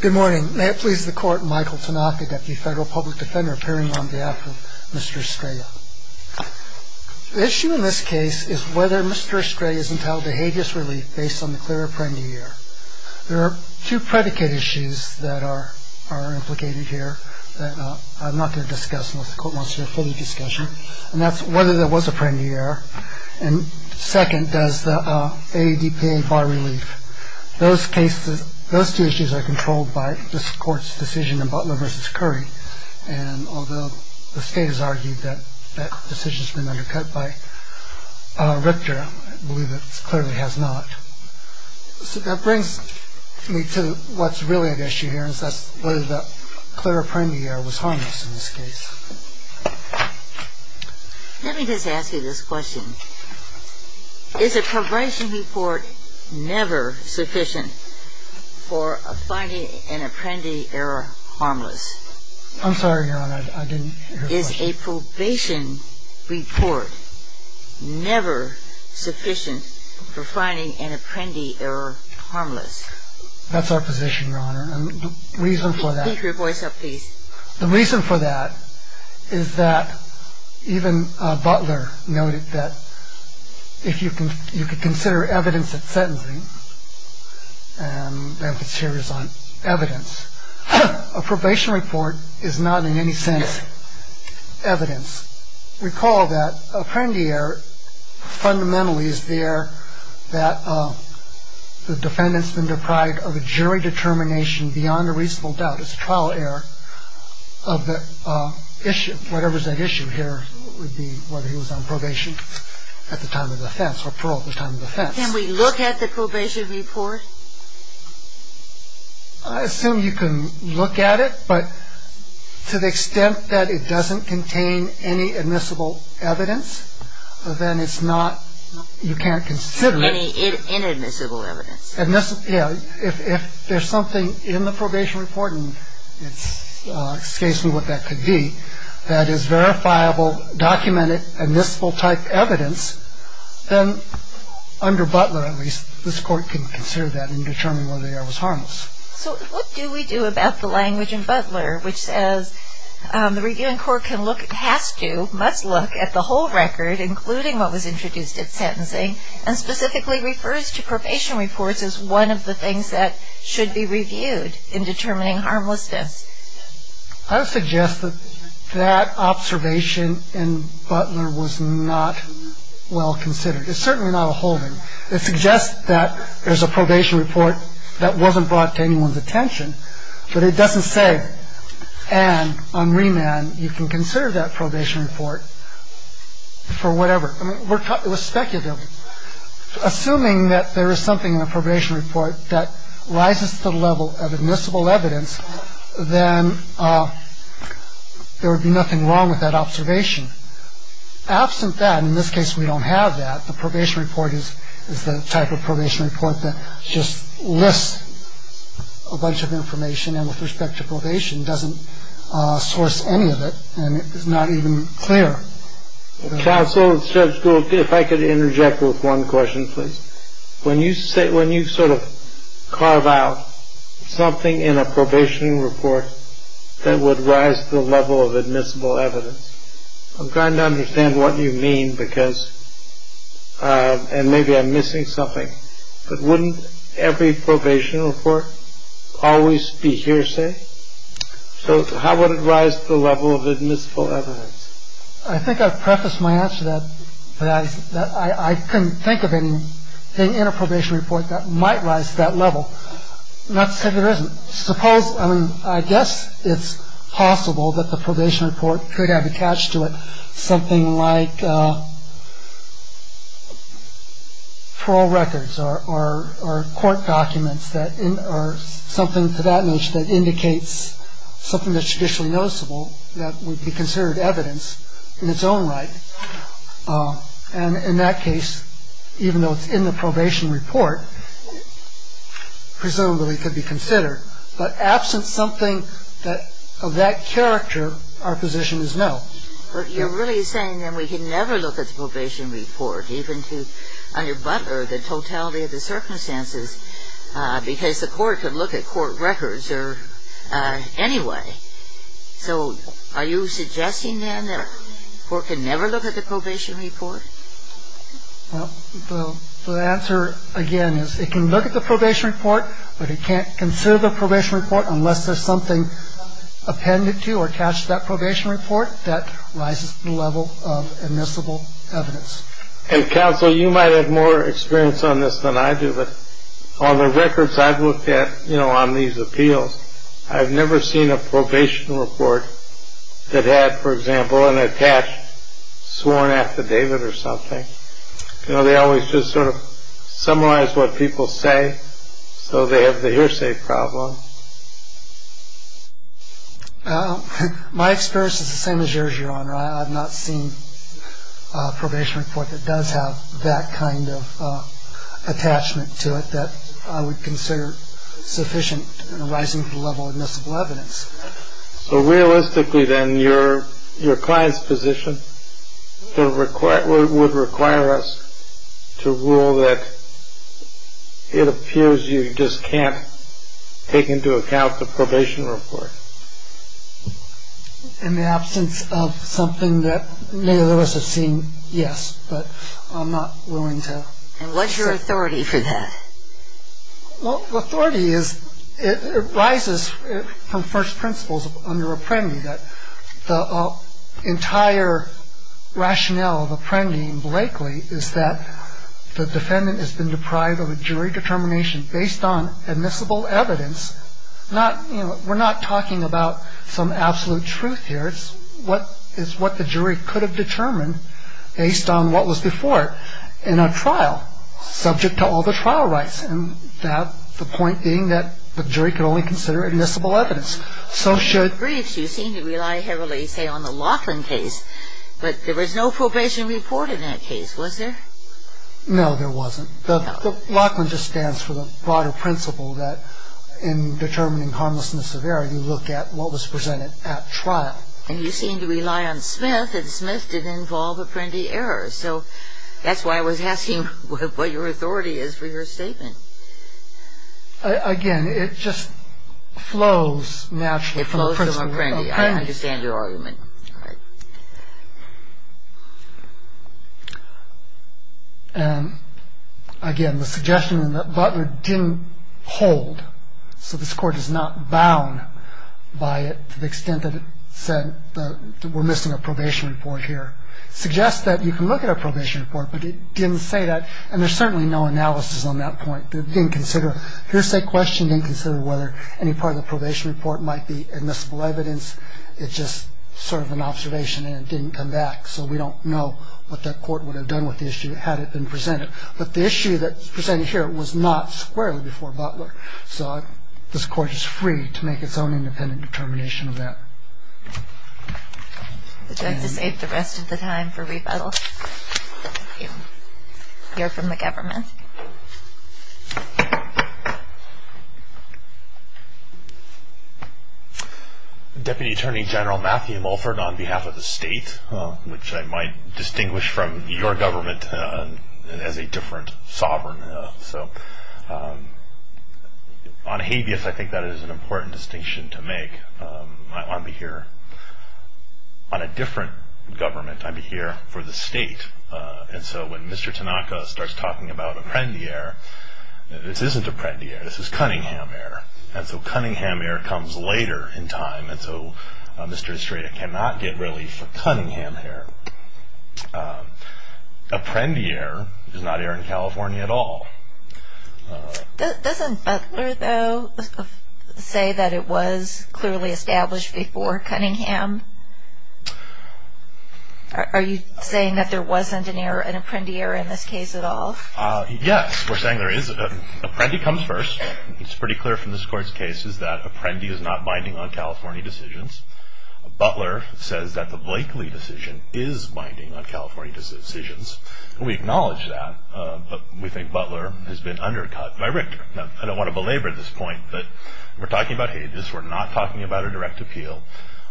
Good morning. May it please the Court, Michael Tanaka, Deputy Federal Public Defender, appearing on behalf of Mr. Estrella. The issue in this case is whether Mr. Estrella is entitled to habeas relief based on the clear Apprendi Error. There are two predicate issues that are implicated here that I'm not going to discuss unless the Court wants to have a full discussion, and that's whether there was Apprendi Error, and second, does the AEDPA bar relief. Those two issues are controlled by this Court's decision in Butler v. Curry, and although the State has argued that that decision has been undercut by Richter, I believe it clearly has not. So that brings me to what's really at issue here, and that's whether the clear Apprendi Error was harmless in this case. Let me just ask you this question. Is a probation report never sufficient for finding an Apprendi Error harmless? I'm sorry, Your Honor, I didn't hear the question. Is a probation report never sufficient for finding an Apprendi Error harmless? That's our position, Your Honor, and the reason for that... Can you keep your voice up, please? The reason for that is that even Butler noted that if you could consider evidence at sentencing, and my emphasis here is on evidence, a probation report is not in any sense evidence. Recall that Apprendi Error fundamentally is the error that the defendant's been deprived of a jury determination beyond a reasonable doubt. It's a trial error of the issue. Whatever's at issue here would be whether he was on probation at the time of offense or parole at the time of offense. Can we look at the probation report? I assume you can look at it, but to the extent that it doesn't contain any admissible evidence, then it's not... You can't consider it... Any inadmissible evidence. If there's something in the probation report, and it escapes me what that could be, that is verifiable, documented, admissible-type evidence, then under Butler, at least, this Court can consider that and determine whether the error was harmless. So what do we do about the language in Butler which says the reviewing court can look, has to, must look at the whole record, including what was introduced at sentencing, and specifically refers to probation reports as one of the things that should be reviewed in determining harmlessness? I would suggest that that observation in Butler was not well considered. It's certainly not a holding. It suggests that there's a probation report that wasn't brought to anyone's attention, but it doesn't say, and on remand, you can consider that probation report for whatever. I mean, it was speculative. Assuming that there is something in a probation report that rises to the level of admissible evidence, then there would be nothing wrong with that observation. Absent that, and in this case we don't have that, the probation report is the type of probation report that just lists a bunch of information, and with respect to probation doesn't source any of it, and it's not even clear. Counsel, Judge Gould, if I could interject with one question, please. When you sort of carve out something in a probation report that would rise to the level of admissible evidence, I'm trying to understand what you mean because, and maybe I'm missing something, but wouldn't every probation report always be hearsay? So how would it rise to the level of admissible evidence? I think I prefaced my answer that I couldn't think of anything in a probation report that might rise to that level. Not to say there isn't. Suppose, I mean, I guess it's possible that the probation report could have attached to it something like parole records or court documents or something to that nature that indicates something that's traditionally noticeable that would be considered evidence in its own right, and in that case, even though it's in the probation report, presumably it could be considered. But absent something of that character, our position is no. But you're really saying, then, we can never look at the probation report, even to under-bunker the totality of the circumstances, because the court could look at court records anyway. So are you suggesting, then, that the court can never look at the probation report? Well, the answer, again, is it can look at the probation report, but it can't consider the probation report unless there's something appended to or attached to that probation report that rises to the level of admissible evidence. And, counsel, you might have more experience on this than I do, but on the records I've looked at on these appeals, I've never seen a probation report that had, for example, an attached sworn affidavit or something. They always just sort of summarize what people say, so they have the hearsay problem. My experience is the same as yours, Your Honor. I've not seen a probation report that does have that kind of attachment to it that I would consider sufficient and rising to the level of admissible evidence. So realistically, then, your client's position would require us to rule that it appears you just can't take into account the probation report. In the absence of something that many of us have seen, yes, but I'm not willing to. And what's your authority for that? Well, authority rises from first principles under Apprendi, that the entire rationale of Apprendi and Blakely is that the defendant has been deprived of a jury determination based on admissible evidence. We're not talking about some absolute truth here. It's what the jury could have determined based on what was before it in a trial subject to all the trial rights, and the point being that the jury could only consider admissible evidence. In the briefs, you seem to rely heavily, say, on the Laughlin case, but there was no probation report in that case, was there? No, there wasn't. The Laughlin just stands for the broader principle that in determining harmlessness of error, you look at what was presented at trial. And you seem to rely on Smith, and Smith did involve Apprendi errors. So that's why I was asking what your authority is for your statement. Again, it just flows naturally from the principle of Apprendi. It flows from Apprendi. I understand your argument. All right. Again, the suggestion that Butler didn't hold, so this Court is not bound by it to the extent that it said that we're missing a probation report here, suggests that you can look at a probation report, but it didn't say that, and there's certainly no analysis on that point. It didn't consider a hearsay question, didn't consider whether any part of the probation report might be admissible evidence. It's just sort of an observation, and it didn't come back, so we don't know what that Court would have done with the issue had it been presented. But the issue that's presented here was not squarely before Butler, so this Court is free to make its own independent determination of that. Would you like to save the rest of the time for rebuttal? You're from the government. Thank you. Deputy Attorney General Matthew Mulford, on behalf of the state, which I might distinguish from your government as a different sovereign. On habeas, I think that is an important distinction to make. On a different government, I'm here for the state, and so when Mr. Tanaka starts talking about Apprendier, this isn't Apprendier. This is Cunningham Air, and so Cunningham Air comes later in time, and so Mr. Estrada cannot get relief for Cunningham Air. Apprendier is not air in California at all. Doesn't Butler, though, say that it was clearly established before Cunningham? Are you saying that there wasn't an Apprendier in this case at all? Yes. We're saying there is. Apprendy comes first. It's pretty clear from this Court's cases that Apprendy is not binding on California decisions. Butler says that the Blakeley decision is binding on California decisions, and we acknowledge that, but we think Butler has been undercut by Richter. Now, I don't want to belabor this point, but we're talking about habeas. We're not talking about a direct appeal.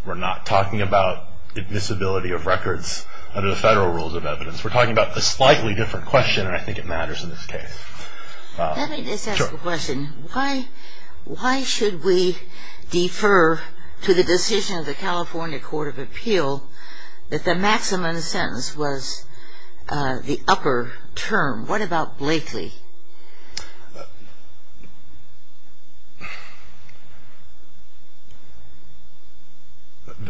We're not talking about admissibility of records under the federal rules of evidence. We're talking about a slightly different question, and I think it matters in this case. Let me just ask a question. Why should we defer to the decision of the California Court of Appeal that the maximum sentence was the upper term? What about Blakeley?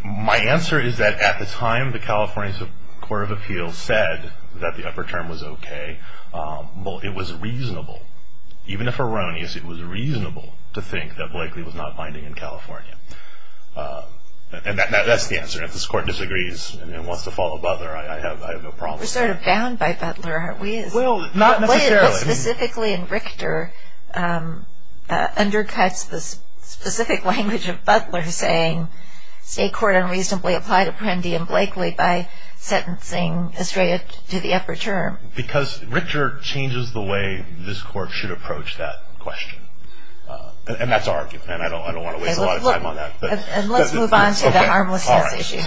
My answer is that at the time the California Court of Appeal said that the upper term was okay, it was reasonable. Even if erroneous, it was reasonable to think that Blakeley was not binding on California. And that's the answer. If this Court disagrees and wants to follow Butler, I have no problem with that. We're sort of bound by Butler, aren't we? Well, not necessarily. What specifically in Richter undercuts the specific language of Butler saying state court unreasonably applied Apprendi and Blakeley by sentencing Estrella to the upper term? Because Richter changes the way this Court should approach that question. And that's our argument, and I don't want to waste a lot of time on that. And let's move on to the harmlessness issue.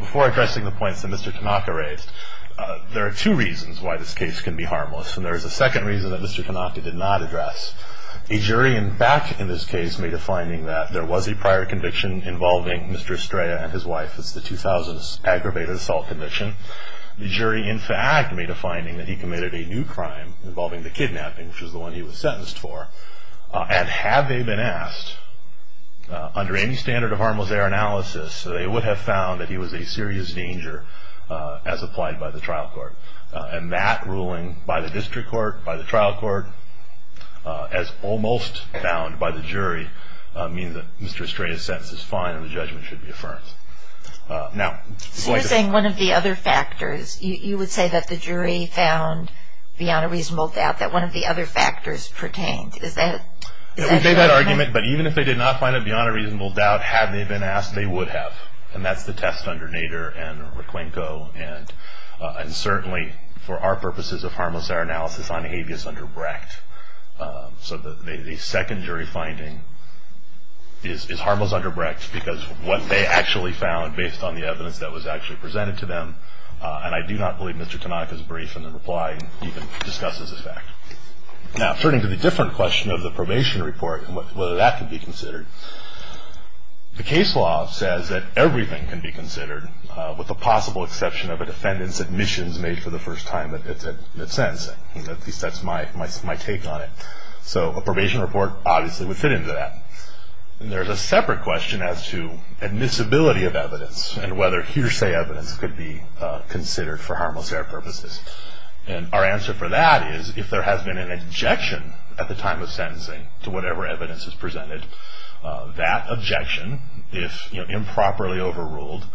Before addressing the points that Mr. Tanaka raised, there are two reasons why this case can be harmless. And there is a second reason that Mr. Tanaka did not address. A jury, in fact, in this case made a finding that there was a prior conviction involving Mr. Estrella and his wife, it's the 2000s aggravated assault conviction. The jury, in fact, made a finding that he committed a new crime involving the kidnapping, which is the one he was sentenced for. And had they been asked under any standard of harmless error analysis, they would have found that he was a serious danger as applied by the trial court. And that ruling by the district court, by the trial court, as almost found by the jury, means that Mr. Estrella's sentence is fine and the judgment should be affirmed. So you're saying one of the other factors, you would say that the jury found beyond a reasonable doubt that one of the other factors pertained. Is that correct? We made that argument, but even if they did not find it beyond a reasonable doubt, had they been asked, they would have. And that's the test under Nader and Requenco. And certainly, for our purposes of harmless error analysis, on habeas under Brecht. So the second jury finding is harmless under Brecht because what they actually found, based on the evidence that was actually presented to them, and I do not believe Mr. Tanaka's brief in the reply even discusses this fact. Now, turning to the different question of the probation report and whether that can be considered, the case law says that everything can be considered, with the possible exception of a defendant's admissions made for the first time in a sense. At least that's my take on it. So a probation report obviously would fit into that. And there's a separate question as to admissibility of evidence and whether hearsay evidence could be considered for harmless error purposes. And our answer for that is if there has been an objection at the time of sentencing to whatever evidence is presented, that objection, if improperly overruled,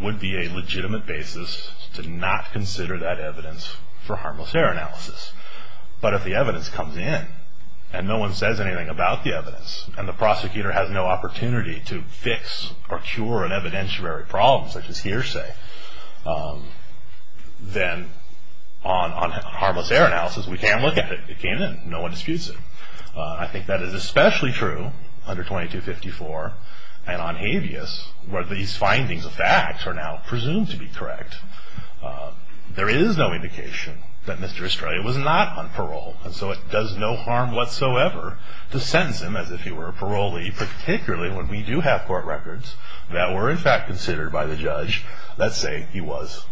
would be a legitimate basis to not consider that evidence for harmless error analysis. But if the evidence comes in, and no one says anything about the evidence, and the prosecutor has no opportunity to fix or cure an evidentiary problem such as hearsay, then on harmless error analysis, we can look at it. It came in. No one disputes it. I think that is especially true under 2254 and on habeas, where these findings of facts are now presumed to be correct. There is no indication that Mr. Estrella was not on parole, and so it does no harm whatsoever to sentence him as if he were a parolee, particularly when we do have court records that were in fact considered by the judge that say he was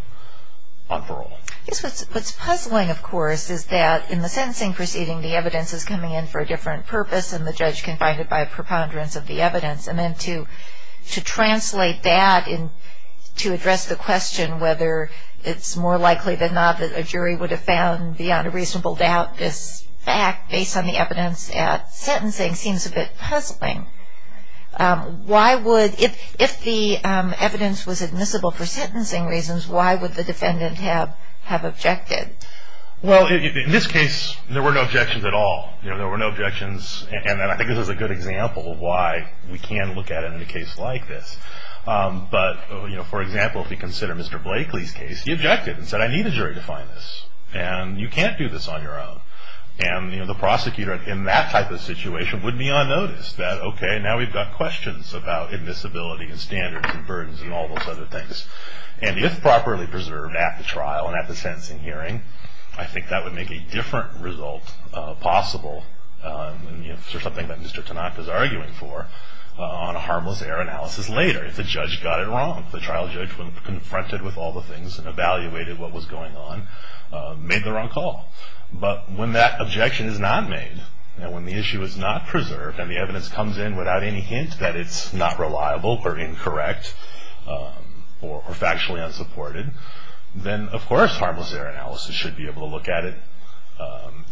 on parole. What's puzzling, of course, is that in the sentencing proceeding, the evidence is coming in for a different purpose, and the judge can find it by a preponderance of the evidence. And then to translate that to address the question whether it's more likely than not that a jury would have found beyond a reasonable doubt this fact, based on the evidence at sentencing, seems a bit puzzling. If the evidence was admissible for sentencing reasons, why would the defendant have objected? Well, in this case, there were no objections at all. There were no objections, and I think this is a good example of why we can look at it in a case like this. But, for example, if you consider Mr. Blakely's case, he objected and said, I need a jury to find this, and you can't do this on your own. And the prosecutor, in that type of situation, would be unnoticed. That, okay, now we've got questions about admissibility and standards and burdens and all those other things. And if properly preserved at the trial and at the sentencing hearing, I think that would make a different result possible, and sort of something that Mr. Tanaka is arguing for, on a harmless error analysis later. If the judge got it wrong, if the trial judge confronted with all the things and evaluated what was going on, made the wrong call. But when that objection is not made, and when the issue is not preserved, and the evidence comes in without any hint that it's not reliable or incorrect or factually unsupported, then, of course, harmless error analysis should be able to look at it,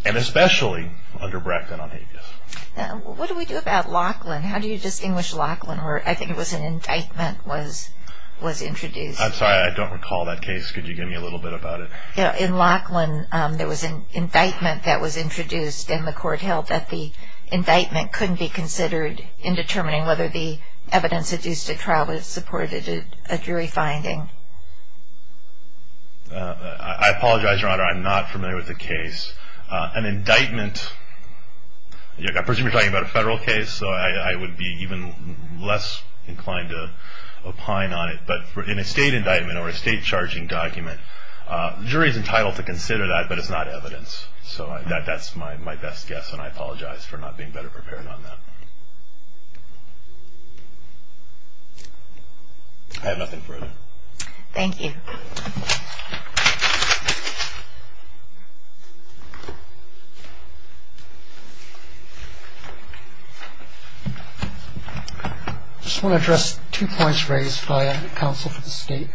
and especially under Brecht and on habeas. What do we do about Lachlan? How do you distinguish Lachlan, where I think it was an indictment was introduced? I'm sorry, I don't recall that case. Could you give me a little bit about it? In Lachlan, there was an indictment that was introduced, and the court held that the indictment couldn't be considered in determining whether the evidence that's used at trial is supported at a jury finding. I apologize, Your Honor, I'm not familiar with the case. An indictment, I presume you're talking about a federal case, so I would be even less inclined to opine on it. But in a state indictment or a state charging document, the jury is entitled to consider that, but it's not evidence. So that's my best guess, and I apologize for not being better prepared on that. I have nothing further. Thank you. I just want to address two points raised by counsel for the state.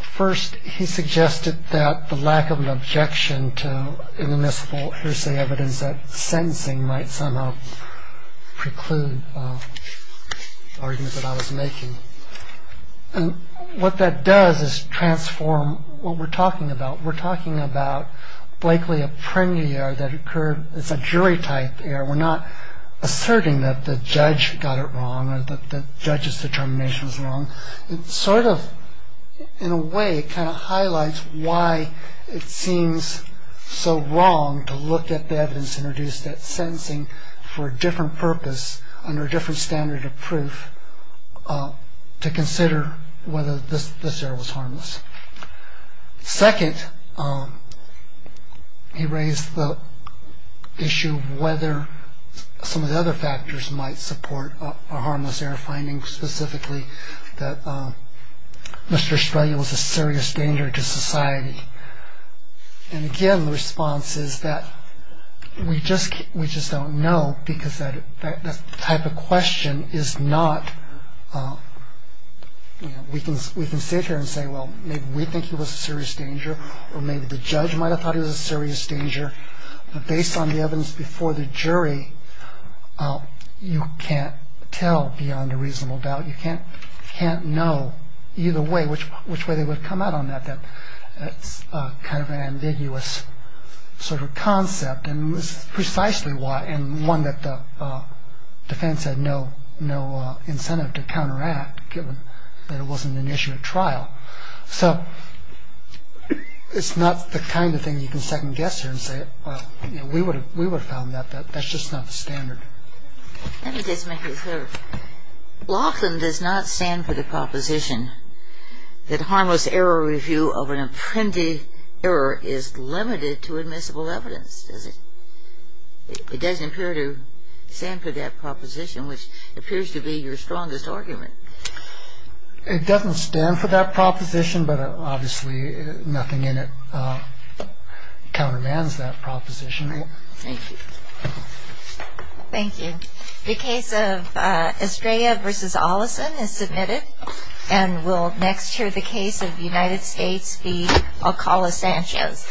First, he suggested that the lack of an objection to inadmissible hearsay evidence that sentencing might somehow preclude arguments that I was making. And what that does is transform what we're talking about. We're talking about Blakely, a premier year that occurred. It's a jury-type year. We're not asserting that the judge got it wrong or that the judge's determination was wrong. It sort of, in a way, kind of highlights why it seems so wrong to look at the evidence and reduce that sentencing for a different purpose under a different standard of proof to consider whether this error was harmless. Second, he raised the issue of whether some of the other factors might support a harmless error, finding specifically that Mr. Estrella was a serious danger to society. And, again, the response is that we just don't know because that type of question is not, you know, we can sit here and say, well, maybe we think he was a serious danger or maybe the judge might have thought he was a serious danger. But based on the evidence before the jury, you can't tell beyond a reasonable doubt. You can't know either way which way they would come out on that. That's kind of an ambiguous sort of concept. And it was precisely why, and one that the defense had no incentive to counteract, So it's not the kind of thing you can second guess here and say, well, we would have found that. That's just not the standard. Let me just make it clear. Laughlin does not stand for the proposition that harmless error review of an apprendee error is limited to admissible evidence, does it? It doesn't appear to stand for that proposition, which appears to be your strongest argument. It doesn't stand for that proposition, but obviously nothing in it countermands that proposition. Thank you. Thank you. The case of Estrella v. Ollison is submitted. And we'll next hear the case of United States v. Alcala-Sanchez.